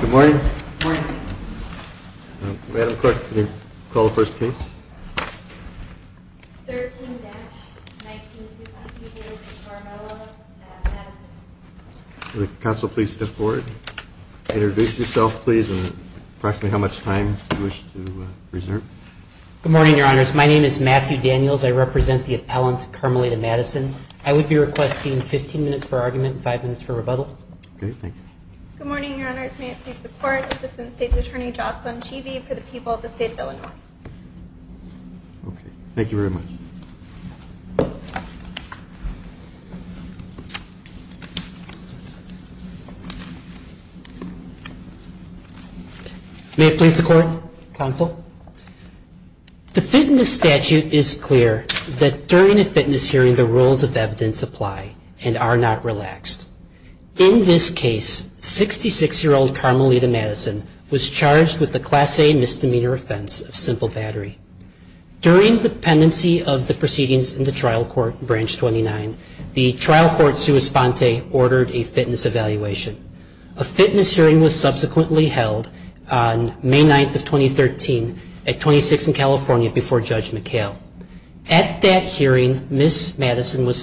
Good morning. Madam Clerk, will you call the first case? Matthew Daniels Good morning, Your Honors. My name is Matthew Daniels. I represent the appellant Carmelita Madison. I would be requesting 15 minutes for argument and 5 minutes for rebuttal. Jocelyn Cheevee Good morning, Your Honors. May it please the Court, counsel? The fitness statute is clear that during a fitness hearing the rules of evidence apply and are not relaxed. In this case, 66-year-old Carmelita Madison was charged with a Class A misdemeanor offense of simple battery. During the pendency of the proceedings in the Trial Court, Branch 29, the Trial Court Suis Fonte ordered a fitness evaluation. A fitness hearing was subsequently held on May 9th of 2013 at 26th and California before Judge McHale. At that hearing, Ms. Madison's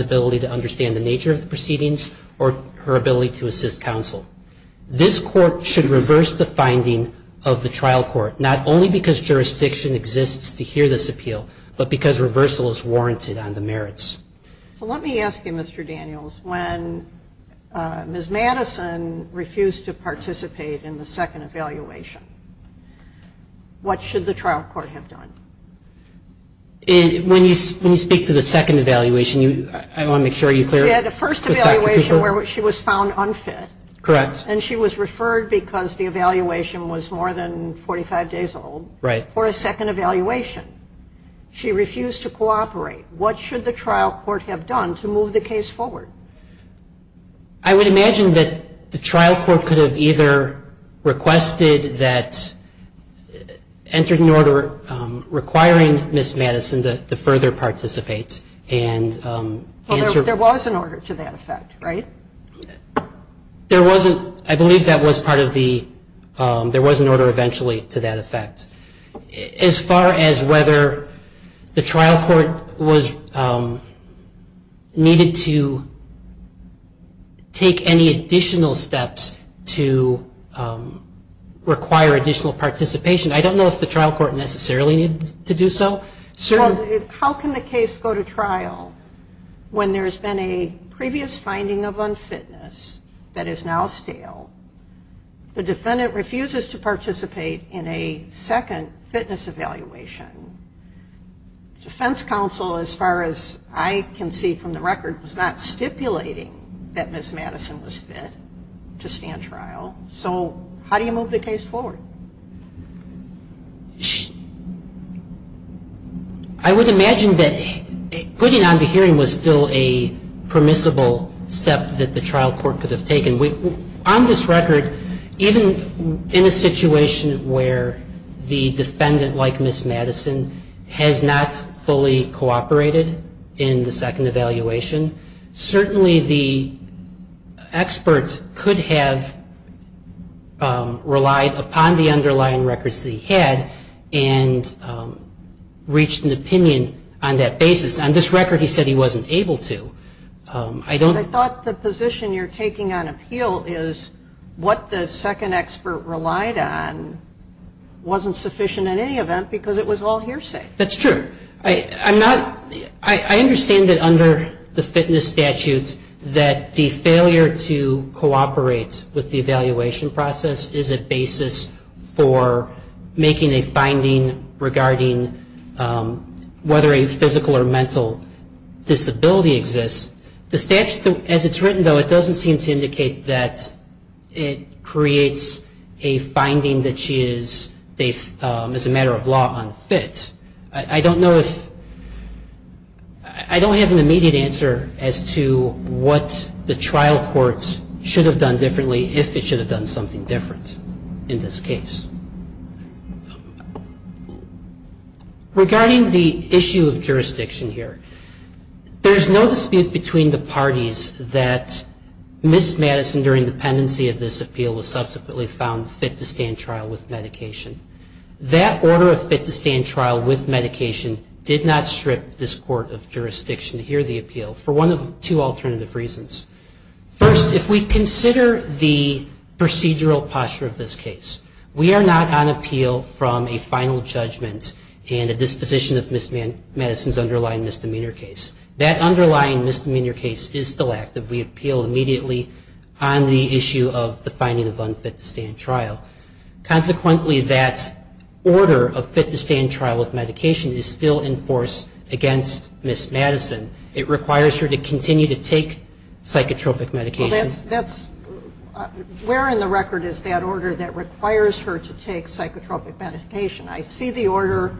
ability to understand the nature of the proceedings or her ability to assist counsel. This Court should reverse the finding of the Trial Court, not only because jurisdiction exists to hear this appeal, but because reversal is warranted on the merits. Jocelyn Cheevee So let me ask you, Mr. Daniels, when Ms. Madison refused to participate in the second evaluation, what should the Trial Court have done? Daniel Daniels When you speak to the second evaluation, I want to make sure you're clear. Jocelyn Cheevee We had the first evaluation where she was found unfit. Daniel Daniels Correct. Jocelyn Cheevee And she was referred because the evaluation was more than 45 days old. Daniel Daniels Right. Jocelyn Cheevee And she refused to cooperate. What should the Trial Court have done to move the case forward? Daniel Daniels I would imagine that the Trial Court could have either requested that entering order requiring Ms. Madison to further participate and answer Jocelyn Cheevee Well, there was an order to that effect, right? Daniel Daniels There wasn't. I believe that was part of the, there was an order eventually to that effect. As far as whether the Trial Court was needed to take any additional steps to require additional participation, I don't know if the Trial Court necessarily needed to do so. Jocelyn Cheevee Well, how can the case go to trial when there's been a previous finding of unfitness that is now stale? The defendant refuses to participate in a second fitness evaluation. Defense counsel, as far as I can see from the record, was not stipulating that Ms. Madison was fit to stand trial. So how do you move the case forward? Daniel Daniels I would imagine that putting on the hearing was still a permissible step that the Trial Court could have taken. On this record, even in a situation where the defendant, like Ms. Madison, has not fully cooperated in the second evaluation, certainly the expert could have relied upon the underlying records that he had and reached an opinion on that basis. On this record, he said he didn't. Jocelyn Cheevee I thought the position you're taking on appeal is what the second expert relied on wasn't sufficient in any event because it was all hearsay. Daniel Daniels That's true. I understand that under the fitness statutes that the failure to cooperate with the evaluation process is a basis for making a finding regarding whether a physical or mental disability exists. The statute doesn't seem to indicate that it creates a finding that she is, as a matter of law, unfit. I don't know if, I don't have an immediate answer as to what the Trial Court should have done differently if it should have done something different in this case. Regarding the issue of jurisdiction here, there's no dispute between the parties that Ms. Madison, during the pendency of this appeal, was subsequently found fit to stand trial with medication. That order of fit to stand trial with medication did not strip this Court of Jurisdiction to hear the appeal for one of two alternative reasons. First, if we consider the procedural posture of this case, we are not on appeal from a final judgment and a disposition of Ms. Madison in your case is still active. We appeal immediately on the issue of the finding of unfit to stand trial. Consequently, that order of fit to stand trial with medication is still in force against Ms. Madison. It requires her to continue to take psychotropic medications. Teri Manolio Where in the record is that order that requires her to take psychotropic medication? I see the order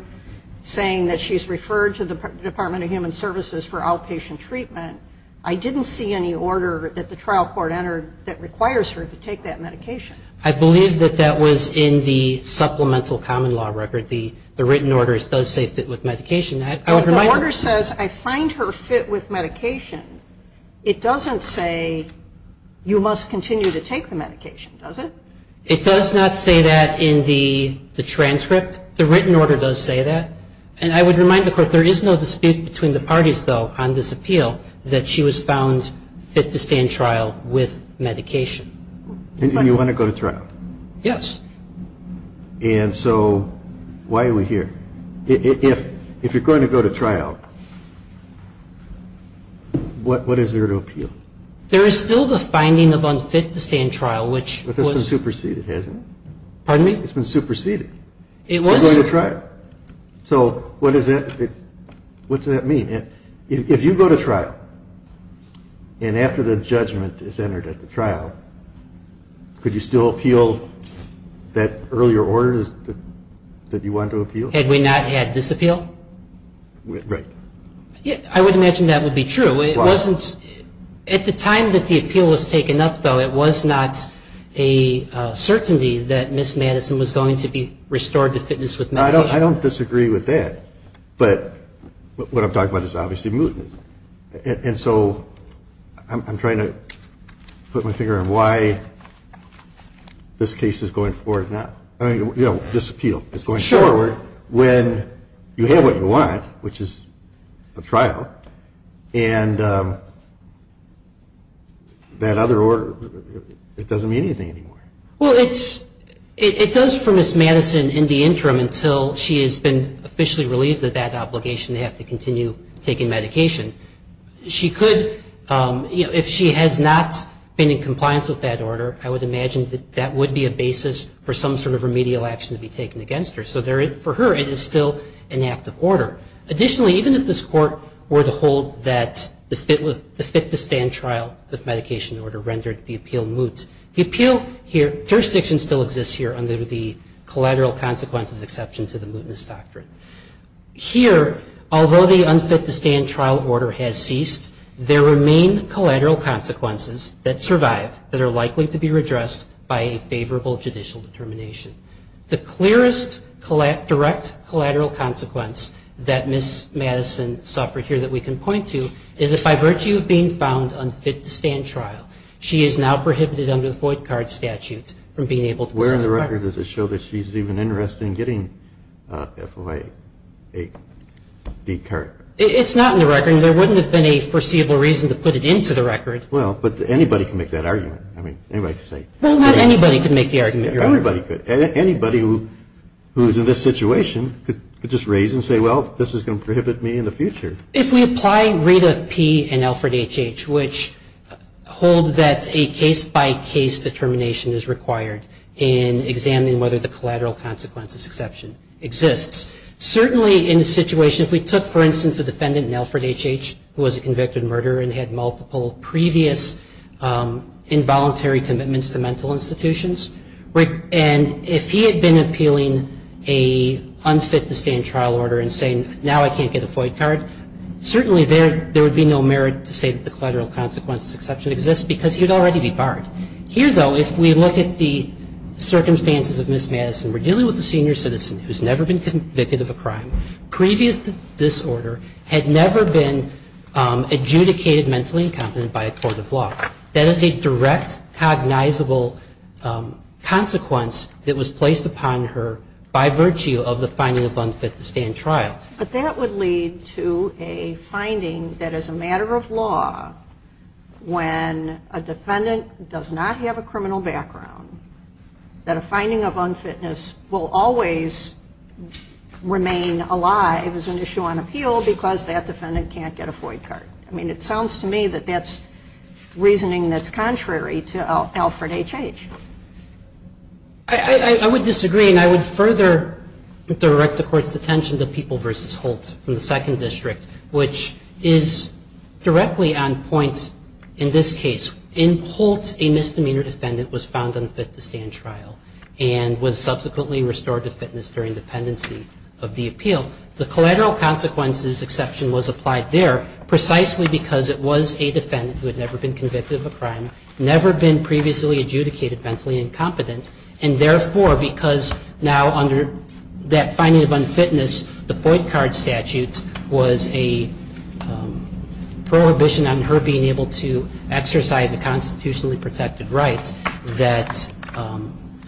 saying that she's referred to the trial court. I didn't see any order that the trial court entered that requires her to take that medication. Stevenson I believe that that was in the supplemental common law record. The written order does say fit with medication. Teri Manolio The order says I find her fit with medication. It doesn't say you must continue to take the medication, does it? Stevenson It does not say that in the transcript. The written order does say that. And I would remind the Court there is no dispute between the parties, though, on this appeal that she was found fit to stand trial with medication. Kennedy And you want to go to trial? Stevenson Yes. Kennedy And so why are we here? If you're going to go to trial, what is there to appeal? Stevenson There is still the finding of unfit to stand trial, which was Kennedy But that's been superseded, hasn't it? Stevenson Pardon me? Kennedy It's been superseded. Stevenson It was. Kennedy So what does that mean? If you go to trial, and after the judgment is entered at the trial, could you still appeal that earlier order that you wanted to appeal? Stevenson Had we not had this appeal? Kennedy Right. Stevenson I would imagine that would be true. At the time that the appeal was taken up, though, it was not a certainty that Ms. Madison was going to be convicted. Kennedy I don't disagree with that. But what I'm talking about is obviously mootness. And so I'm trying to put my finger on why this case is going forward now. I mean, this appeal is going forward when you have what you want, which is a trial, and that other order, it doesn't mean anything anymore. Stevenson Well, it does for Ms. Madison in the interim until she has been officially relieved of that obligation to have to continue taking medication. She could, if she has not been in compliance with that order, I would imagine that that would be a basis for some sort of remedial action to be taken against her. So for her, it is still an active order. Additionally, even if this Court were to hold that the fit-to-stand trial with medication order rendered the appeal moot, the jurisdiction still exists here under the collateral consequences exception to the mootness doctrine. Here, although the unfit-to-stand trial order has ceased, there remain collateral consequences that survive that are likely to be redressed by a favorable judicial determination. The clearest direct collateral consequence that Ms. Madison suffered here that we can point to is that by the end of the fit-to-stand trial, she is now prohibited under the void card statute from being able to pursue the record. Kennedy Where in the record does it show that she's even interested in getting FOIA 8D card? Stevenson It's not in the record, and there wouldn't have been a foreseeable reason to put it into the record. Kennedy Well, but anybody can make that argument. I mean, anybody can say. Stevenson Well, not anybody can make the argument, Your Honor. Kennedy Everybody could. Anybody who is in this situation could just raise and say, well, this is going to prohibit me in the future. Stevenson If we apply RITA P. and Alfred H.H., which hold that a case-by-case determination is required in examining whether the collateral consequences exception exists, certainly in a situation, if we took, for instance, a defendant in Alfred H.H. who was a convicted murderer and had multiple previous involuntary commitments to mental institutions, and if he had been appealing an unfit-to-stand trial order and saying, now I can't get a void card, certainly there would be no merit to say that the collateral consequences exception exists because he would already be barred. Here, though, if we look at the circumstances of Ms. Madison, we're dealing with a senior citizen who's never been convicted of a crime, previous to this order, had never been adjudicated mentally incompetent by a court of law. That is a direct cognizable consequence that was placed upon her by virtue of the finding of unfit-to-stand trial. But that would lead to a finding that, as a matter of law, when a defendant does not have a criminal background, that a finding of unfitness will always remain alive as an issue on appeal because that defendant can't get a void card. I mean, it sounds to me that that's reasoning that's contrary to Alfred H.H. I would disagree, and I would further direct the Court's attention to people like Ms. Madison versus Holt from the Second District, which is directly on points in this case. In Holt, a misdemeanor defendant was found unfit-to-stand trial and was subsequently restored to fitness during dependency of the appeal. The collateral consequences exception was applied there precisely because it was a defendant who had never been convicted of a crime, never been previously adjudicated mentally incompetent, and therefore, because now under that finding of unfitness, the void card statute was a prohibition on her being able to exercise a constitutionally protected right, that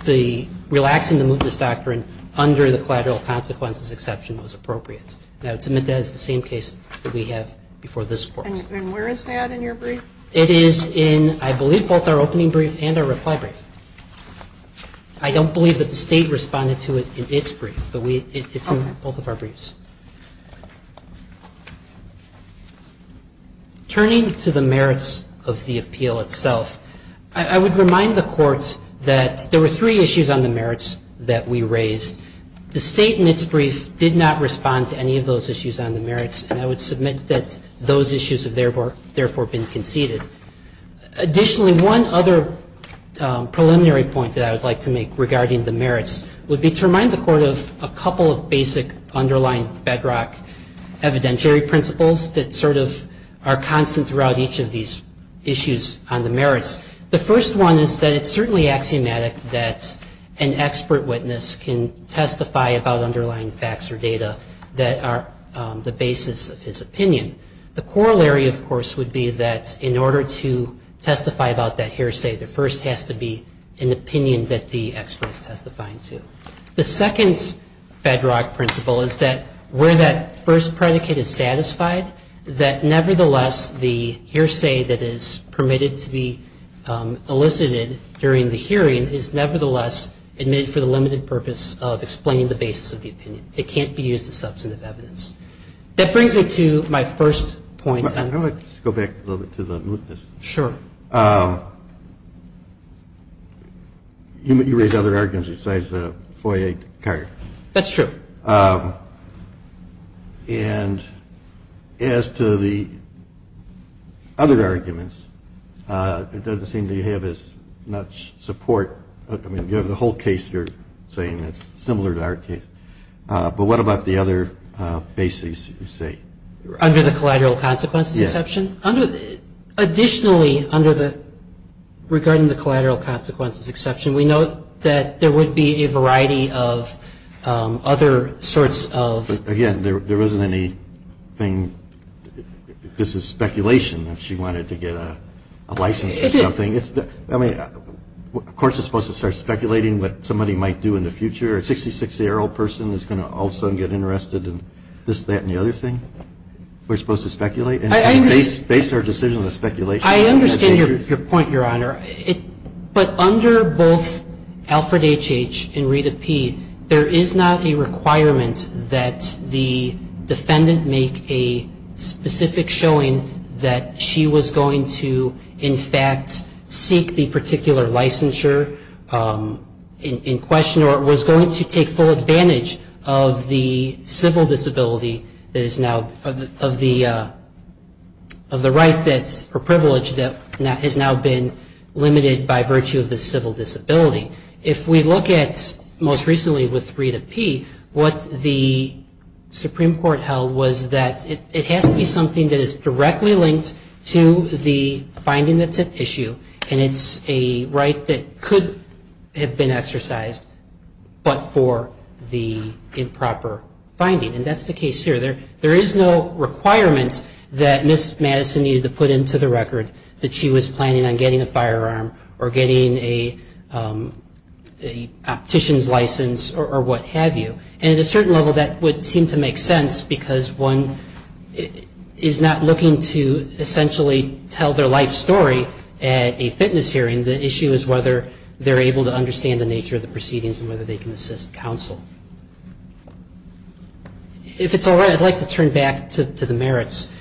the relaxing the mootness doctrine under the collateral consequences exception was appropriate. And I would submit that as the same case that we have before this Court. And where is that in your brief? It is in, I believe, both our opening brief and our reply brief. I don't believe that the State responded to it in its brief, but it's in both of our briefs. Turning to the merits of the appeal itself, I would remind the Court that there were three issues on the merits that we raised. The State in its brief did not respond to any of those issues on the merits, and I would submit that those issues have therefore been conceded. Additionally, one other preliminary point that I would like to make regarding the merits would be to remind the Court of a couple of basic underlying bedrock evidentiary principles that sort of are constant throughout each of these issues on the merits. The first one is that it's certainly axiomatic that an expert witness can testify about underlying facts or data that are the basis of the opinion. The theory, of course, would be that in order to testify about that hearsay, there first has to be an opinion that the expert is testifying to. The second bedrock principle is that where that first predicate is satisfied, that nevertheless the hearsay that is permitted to be elicited during the hearing is nevertheless admitted for the limited purpose of explaining the basis of the opinion. And I would like to just go back a little bit to the mootness. Sure. You raised other arguments besides the FOIA card. That's true. And as to the other arguments, it doesn't seem that you have as much support. I mean, you have the whole case you're saying that's similar to our case, but what about the other basis you say? Under the collateral consequences exception? Yes. Additionally, under the, regarding the collateral consequences exception, we note that there would be a variety of other sorts of Again, there wasn't anything, this is speculation, if she wanted to get a license for something. I mean, of course it's supposed to start speculating what somebody might do in the future. A 66-year-old person is going to all of a We're supposed to speculate and base our decision on the speculation. I understand your point, Your Honor. But under both Alfred H.H. and Rita P., there is not a requirement that the defendant make a specific showing that she was going to, in fact, seek the particular licensure in question or was going to take full advantage of the civil disability that is now, of the right or privilege that has now been limited by virtue of the civil disability. If we look at most recently with Rita P., what the Supreme Court held was that it has to be something that is directly linked to the finding that's at issue, and it's a right that could have been exercised, but for the improper finding. And that's the case here. There is no requirement that Ms. Madison needed to put into the record that she was planning on getting a firearm or getting a optician's license or what have you. And at a certain level, that would seem to make sense because one is not looking to essentially tell their life story at a fitness hearing. The issue is whether they're able to understand the nature of the proceedings and whether they can assist counsel. If it's all right, I'd like to turn back to the merits.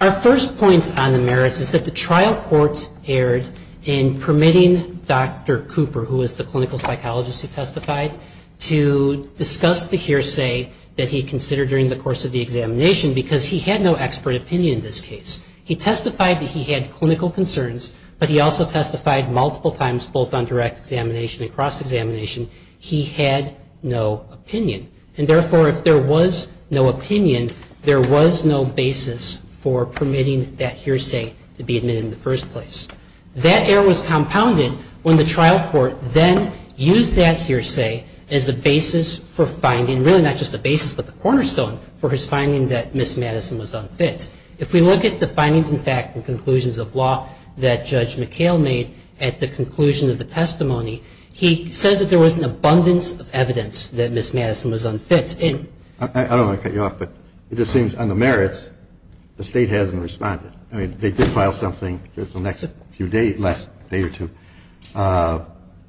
Our first point on the merits is that the trial court erred in permitting Dr. Cooper, who was the clinical psychologist who testified, to discuss the hearsay that he considered during the course of the examination because he had no expert opinion in this case. He testified that he had clinical concerns, but he also testified multiple times, both on direct examination and cross-examination, he had no opinion. And therefore, if there was no opinion, there was no basis for permitting that hearsay to be admitted in the first place. That error was compounded when the trial court then used that hearsay as a basis for finding, really not just a basis but the cornerstone for his finding that Ms. Madison was unfit. If we look at the findings and facts and conclusions of law that Judge McHale made at the conclusion of the testimony, he says that there was an abundance of evidence that Ms. Madison was unfit. I don't want to cut you off, but it just seems on the merits, the State hasn't responded. I mean, they did file something just the next few days, last day or two, but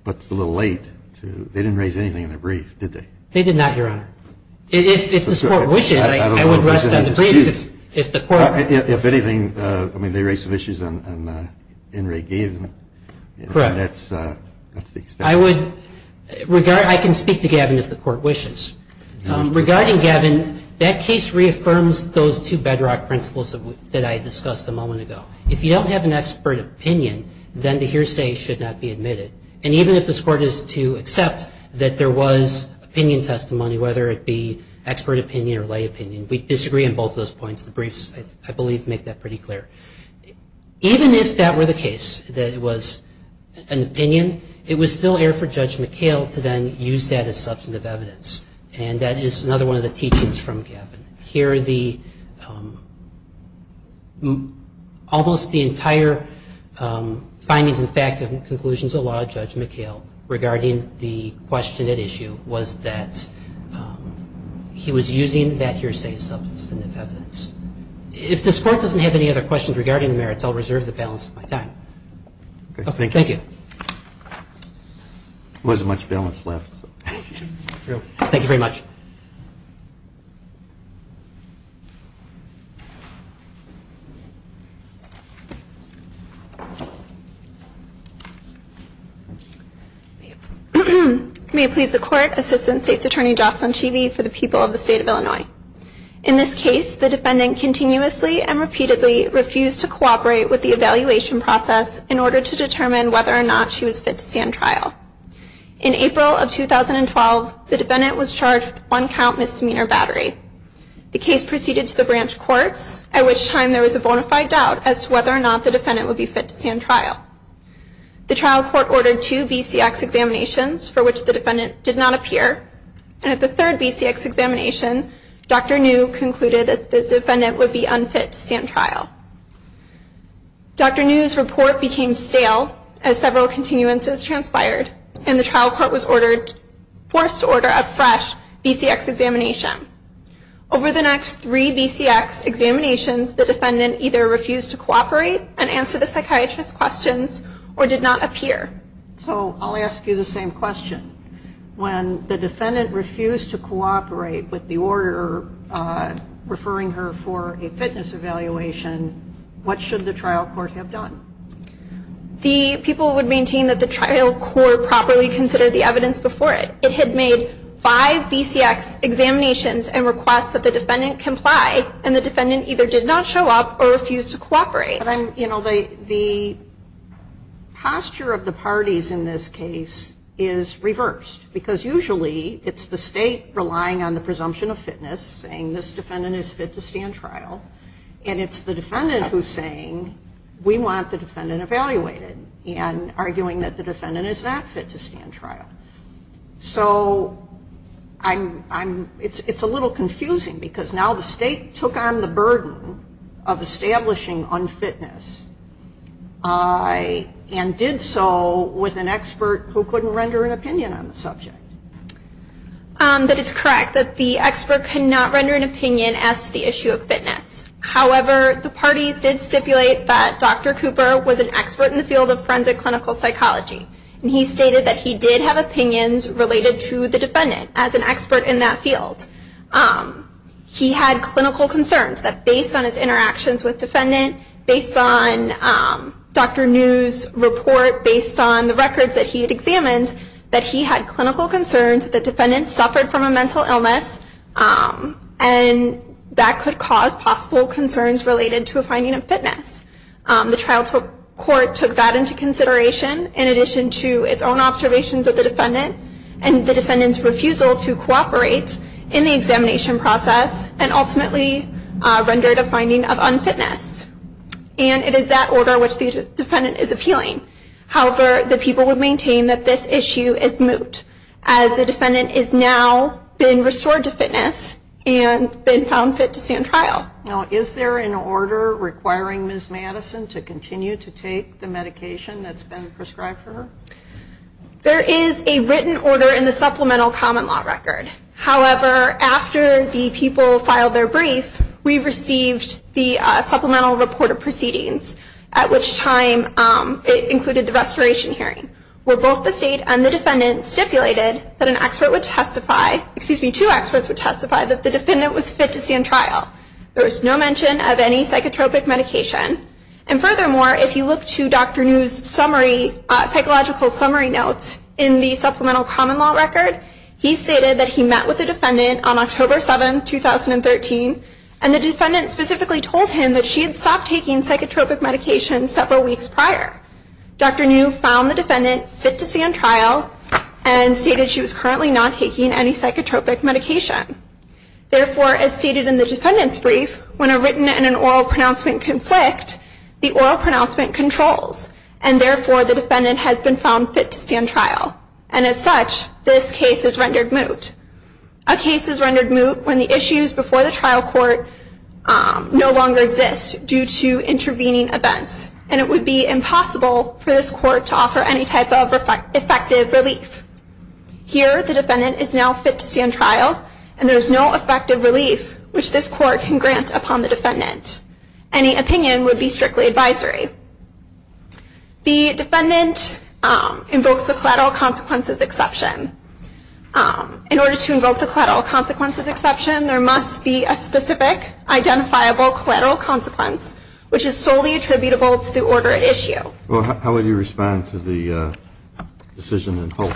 it's a little late. They didn't raise anything in their brief, did they? They did not, Your Honor. If this Court wishes, I would rest on the brief if the Court ---- Correct. I can speak to Gavin if the Court wishes. Regarding Gavin, that case reaffirms those two bedrock principles that I discussed a moment ago. If you don't have an expert opinion, then the hearsay should not be admitted. And even if this Court is to accept that there was opinion testimony, whether it be expert opinion or lay opinion, we disagree on both those points. The briefs, I believe, make that pretty clear. Even if that were the case, that it was an opinion, it would still err for Judge McHale to then use that as substantive evidence. And that is another one of the teachings from Gavin. Here, almost the entire findings and conclusions of the law of Judge McHale regarding the question at issue was that he was using that hearsay as substantive evidence. If this Court doesn't have any other questions regarding the merits, I'll reserve the balance of my time. Thank you. Thank you. There wasn't much balance left. Thank you very much. May it please the Court, Assistant State's Attorney Jocelyn Cheeve for the people of the State of Illinois. In this case, the defendant continuously and repeatedly refused to cooperate with the evaluation process in order to determine whether or not she was fit to stand trial. In April of 2012, the defendant was charged with one count misdemeanor battery. The case proceeded to the branch courts, at which time there was a bona fide doubt as to whether or not the defendant would be fit to stand trial. The trial court ordered two BCX examinations, for which the defendant did not appear. And at the third BCX examination, Dr. New concluded that the defendant would be unfit to stand trial. Dr. New's report became stale as several continuances transpired, and the trial court was forced to order a fresh BCX examination. Over the next three BCX examinations, the defendant either refused to cooperate and answer the psychiatrist's questions or did not appear. So I'll ask you the same question. When the defendant refused to cooperate with the order referring her for a fitness evaluation, what should the trial court have done? The people would maintain that the trial court properly considered the evidence before it. It had made five BCX examinations and requests that the defendant comply, and the defendant either did not show up or refused to cooperate. The posture of the parties in this case is reversed, because usually it's the state relying on the presumption of fitness, saying this defendant is fit to stand trial, and it's the defendant who's saying we want the defendant evaluated and arguing that the defendant is not fit to stand trial. So it's a little confusing because now the state took on the burden of establishing unfitness and did so with an expert who couldn't render an opinion on the subject. That is correct, that the expert could not render an opinion as to the issue of fitness. However, the parties did stipulate that Dr. Cooper was an expert in the field of forensic clinical psychology, and he stated that he did have opinions related to the defendant as an expert in that field. He had clinical concerns that based on his interactions with the defendant, based on Dr. New's report, based on the records that he had examined, that he had clinical concerns that the defendant suffered from a mental illness and that could cause possible concerns related to a finding of fitness. The trial court took that into consideration in addition to its own observations of the defendant and the defendant's refusal to cooperate in the examination process and ultimately rendered a finding of unfitness. And it is that order which the defendant is appealing. However, the people would maintain that this issue is moot as the defendant has now been restored to fitness and been found fit to stand trial. Now, is there an order requiring Ms. Madison to continue to take the medication that's been prescribed for her? There is a written order in the Supplemental Common Law Record. However, after the people filed their brief, we received the Supplemental Report of Proceedings, at which time it included the restoration hearing, where both the state and the defendant stipulated that an expert would testify excuse me, two experts would testify that the defendant was fit to stand trial. There was no mention of any psychotropic medication. And furthermore, if you look to Dr. New's psychological summary notes in the Supplemental Common Law Record, he stated that he met with the defendant on October 7, 2013, and the defendant specifically told him that she had stopped taking psychotropic medication several weeks prior. Dr. New found the defendant fit to stand trial and stated she was currently not taking any psychotropic medication. Therefore, as stated in the defendant's brief, when a written and an oral pronouncement conflict, the oral pronouncement controls, and therefore, the defendant has been found fit to stand trial. And as such, this case is rendered moot. A case is rendered moot when the issues before the trial court no longer exist due to intervening events, and it would be impossible for this court to offer any type of effective relief. Here, the defendant is now fit to stand trial, and there is no effective relief which this court can grant upon the defendant. Any opinion would be strictly advisory. The defendant invokes the collateral consequences exception. In order to invoke the collateral consequences exception, there must be a specific identifiable collateral consequence, which is solely attributable to the order at issue. Well, how would you respond to the decision in Holt?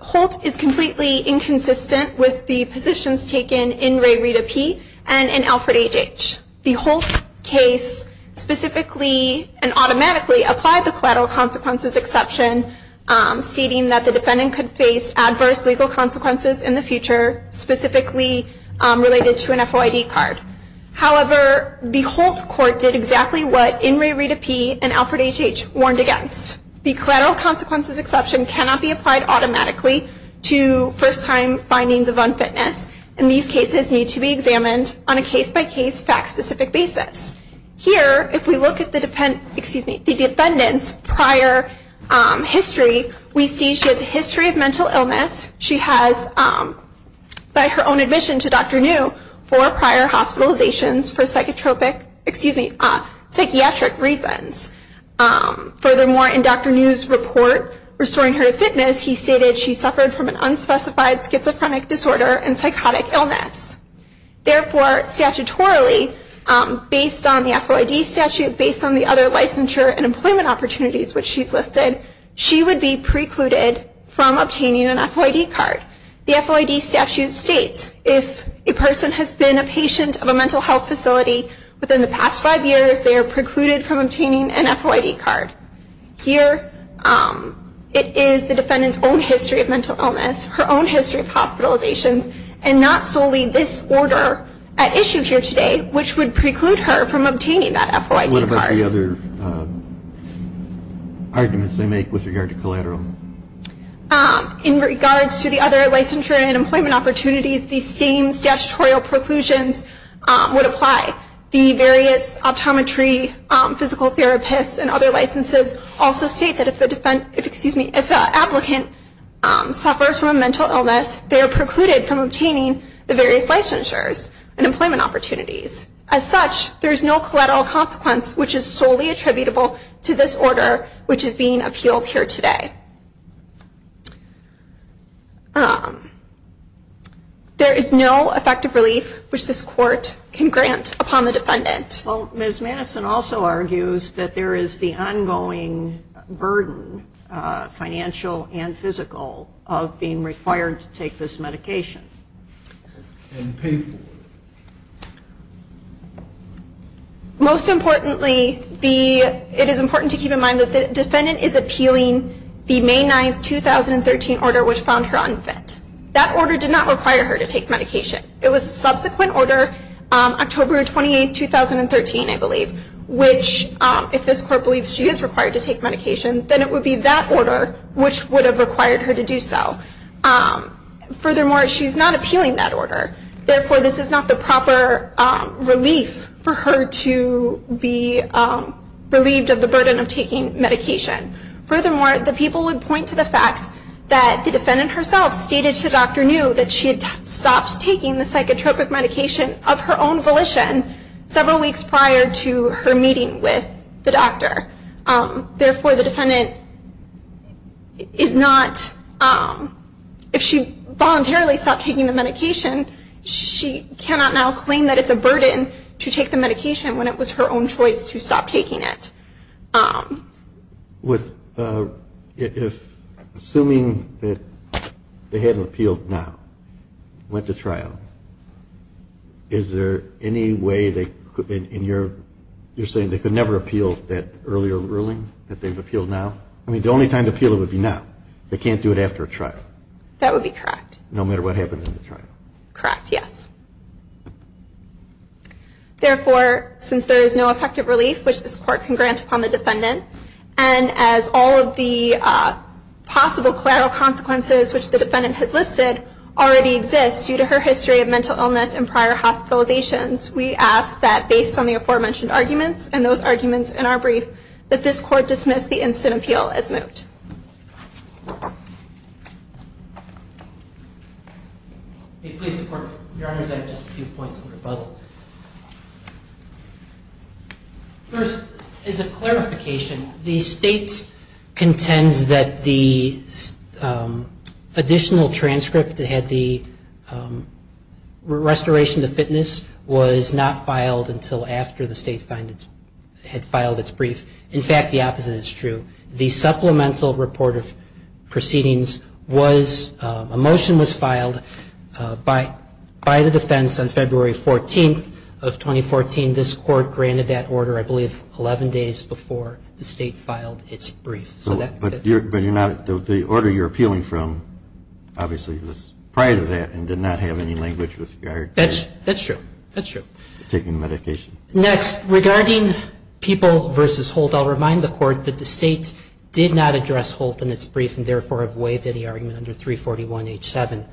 Holt is completely inconsistent with the positions taken in Ray Rita P and in Alfred H.H. The Holt case specifically and automatically applied the collateral consequences exception, stating that the defendant could face adverse legal consequences in the future, specifically related to an FOID card. However, the Holt court did exactly what in Ray Rita P and Alfred H.H. warned against. The collateral consequences exception cannot be applied automatically to first-time findings of unfitness, and these cases need to be examined on a case-by-case, fact-specific basis. Here, if we look at the defendant's prior history, we see she has a history of mental illness. She has, by her own admission to Dr. New, four prior hospitalizations for psychiatric reasons. Furthermore, in Dr. New's report, Restoring Her Fitness, he stated she suffered from an unspecified schizophrenic disorder and psychotic illness. Therefore, statutorily, based on the FOID statute, based on the other licensure and employment opportunities which she's listed, she would be precluded from obtaining an FOID card. The FOID statute states if a person has been a patient of a mental health facility within the past five years, they are precluded from obtaining an FOID card. Here, it is the defendant's own history of mental illness, her own history of hospitalizations, and not solely this order at issue here today, which would preclude her from obtaining that FOID card. What about the other arguments they make with regard to collateral? In regards to the other licensure and employment opportunities, the same statutory preclusions would apply. The various optometry, physical therapists, and other licenses also state that if the applicant suffers from a mental illness, they are precluded from obtaining the various licensures and employment opportunities. As such, there is no collateral consequence which is solely attributable to this order which is being appealed here today. There is no effective relief which this court can grant upon the defendant. Well, Ms. Madison also argues that there is the ongoing burden, financial and physical, of being required to take this medication. And pay for it. Most importantly, it is important to keep in mind that the defendant is appealing the May 9, 2013 order which found her unfit. That order did not require her to take medication. It was a subsequent order, October 28, 2013, I believe, which if this court believes she is required to take medication, then it would be that order which would have required her to do so. Furthermore, she is not appealing that order. Therefore, this is not the proper relief for her to be relieved of the burden of taking medication. Furthermore, the people would point to the fact that the defendant herself stated to Dr. New that she had stopped taking the psychotropic medication of her own volition several weeks prior to her meeting with the doctor. Therefore, the defendant is not, if she voluntarily stopped taking the medication, she cannot now claim that it's a burden to take the medication when it was her own choice to stop taking it. With assuming that they have appealed now, went to trial, is there any way they could, in your, you're saying they could never appeal that earlier ruling that they've appealed now? I mean, the only time to appeal it would be now. They can't do it after a trial. That would be correct. No matter what happened in the trial. Correct, yes. Therefore, since there is no effective relief, which this court can grant upon the defendant, and as all of the possible collateral consequences which the defendant has listed already exist due to her history of mental illness and prior hospitalizations, we ask that based on the aforementioned arguments and those arguments in our brief, that this court dismiss the instant appeal as moved. May it please the court, your honors, I have just a few points of rebuttal. First, as a clarification, the state contends that the additional transcript that had the restoration to fitness was not filed until after the state had filed its brief. In fact, the opposite is true. The supplemental report of proceedings was, a motion was filed by the defense on February 14th of 2014. This court granted that order, I believe, 11 days before the state filed its brief. But the order you're appealing from obviously was prior to that and did not have any language with regard to taking medication. That's true. Next, regarding people versus Holt, I'll remind the court that the state did not address Holt in its brief and therefore have waived any argument under 341H7.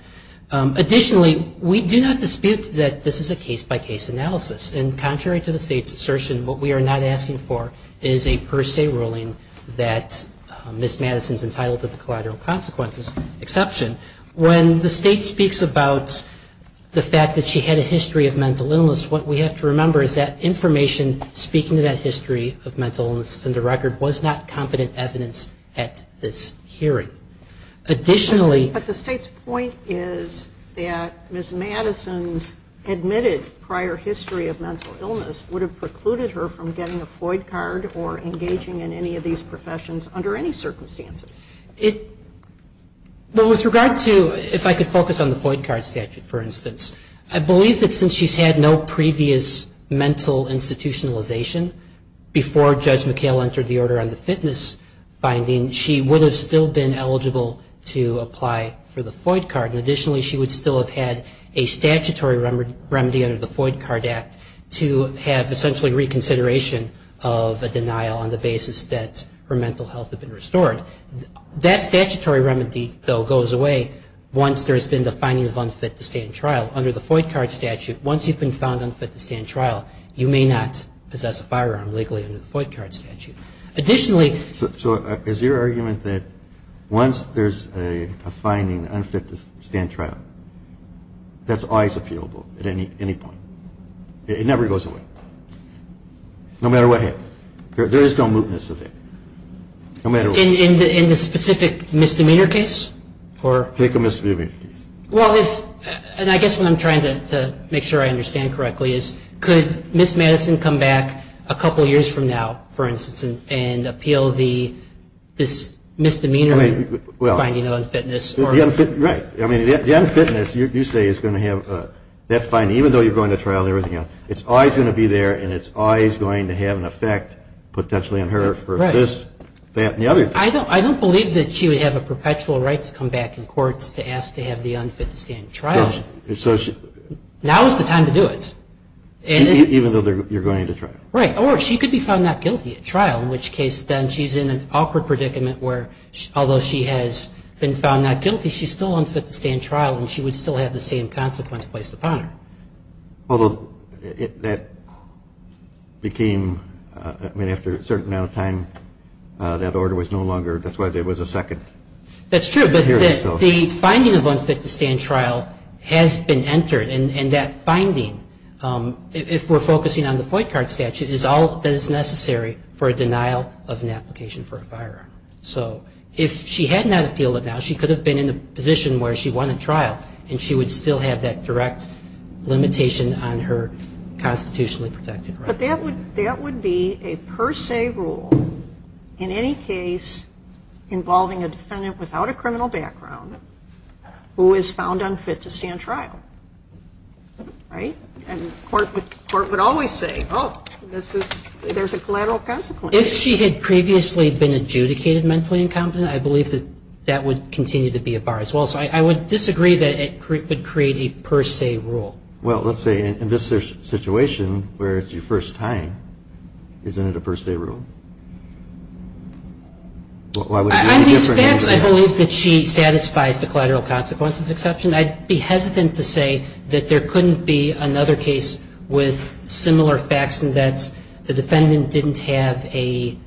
Additionally, we do not dispute that this is a case-by-case analysis. And contrary to the state's assertion, what we are not asking for is a per se ruling that Ms. Madison is entitled to the collateral consequences exception. When the state speaks about the fact that she had a history of mental illness, what we have to remember is that information speaking to that history of mental illness in the record was not competent evidence at this hearing. Additionally But the state's point is that Ms. Madison's admitted prior history of mental illness would have precluded her from getting a FOID card or engaging in any of these professions under any circumstances. It, well, with regard to, if I could focus on the FOID card statute, for previous mental institutionalization, before Judge McHale entered the order on the fitness finding, she would have still been eligible to apply for the FOID card. Additionally, she would still have had a statutory remedy under the FOID card act to have essentially reconsideration of a denial on the basis that her mental health had been restored. That statutory remedy, though, goes away once there has been the finding of unfit to stay in trial. Under the FOID card statute, once you've been found unfit to stay in trial, you may not possess a firearm legally under the FOID card statute. Additionally So is your argument that once there's a finding unfit to stay in trial, that's always appealable at any point? It never goes away. No matter what happens. There is no mootness of it. In the specific misdemeanor case? Take a misdemeanor case. I guess what I'm trying to make sure I understand correctly is could Ms. Madison come back a couple years from now, for instance, and appeal this misdemeanor finding of unfitness? Right. The unfitness, you say, is going to have that finding, even though you're going to trial and everything else. It's always going to be there and it's always going to have an effect potentially on her for this, that, and the other thing. I don't believe that she would have a perpetual right to come back in courts to ask to have the unfit to stay in trial. Now is the time to do it. Even though you're going to trial. Right. Or she could be found not guilty at trial, in which case then she's in an awkward predicament where although she has been found not guilty, she's still unfit to stay in trial and she would still have the same consequence placed upon her. Although that became, I mean, after a certain amount of time, that order was no longer, that's why there was a second hearing. That's true. But the finding of unfit to stay in trial has been entered. And that finding, if we're focusing on the Foyt card statute, is all that is necessary for a denial of an application for a firearm. So if she had not appealed it now, she could have been in a position where she won a trial and she would still have that direct limitation on her constitutionally protected rights. But that would be a per se rule in any case involving a defendant without a criminal background who is found unfit to stay in trial. Right? And the court would always say, oh, there's a collateral consequence. If she had previously been adjudicated mentally incompetent, I believe that that would continue to be a bar as well. So I would disagree that it would create a per se rule. Well, let's say in this situation where it's your first time, isn't it a per se rule? On these facts, I believe that she satisfies the collateral consequences exception. I'd be hesitant to say that there couldn't be another case with similar facts and that the defendant didn't have a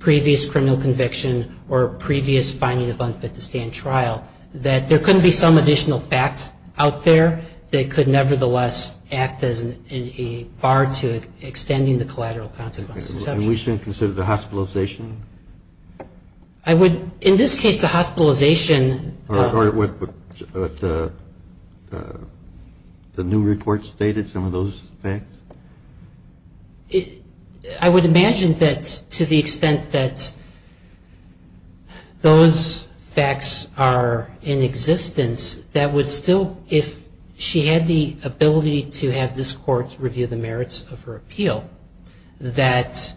previous criminal conviction or previous finding of unfit to stay in trial. That there couldn't be some additional facts out there that could nevertheless act as a bar to extending the collateral consequences exception. And we shouldn't consider the hospitalization? I would, in this case, the hospitalization. Or what the new report stated, some of those facts? I would imagine that to the extent that those facts are in existence, that would still, if she had the ability to have this court review the merits of her appeal, that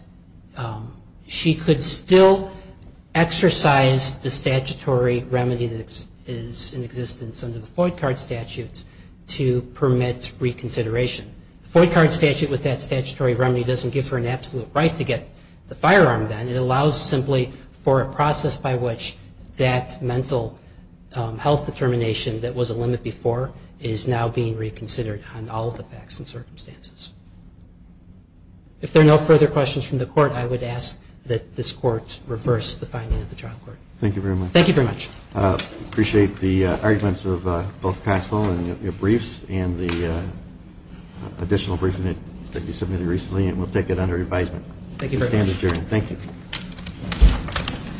she could still exercise the statutory remedy that is in existence under the Floyd card statute to permit reconsideration. The Floyd card statute with that statutory remedy doesn't give her an absolute right to get the firearm then. It allows simply for a process by which that mental health determination that was a limit before is now being reconsidered on all the facts and circumstances. If there are no further questions from the court, I would ask that this court reverse the finding of the trial court. Thank you very much. Thank you very much. Appreciate the arguments of both counsel and your briefs and the additional briefing that you submitted recently and we'll take it under advisement. Thank you. Thank you.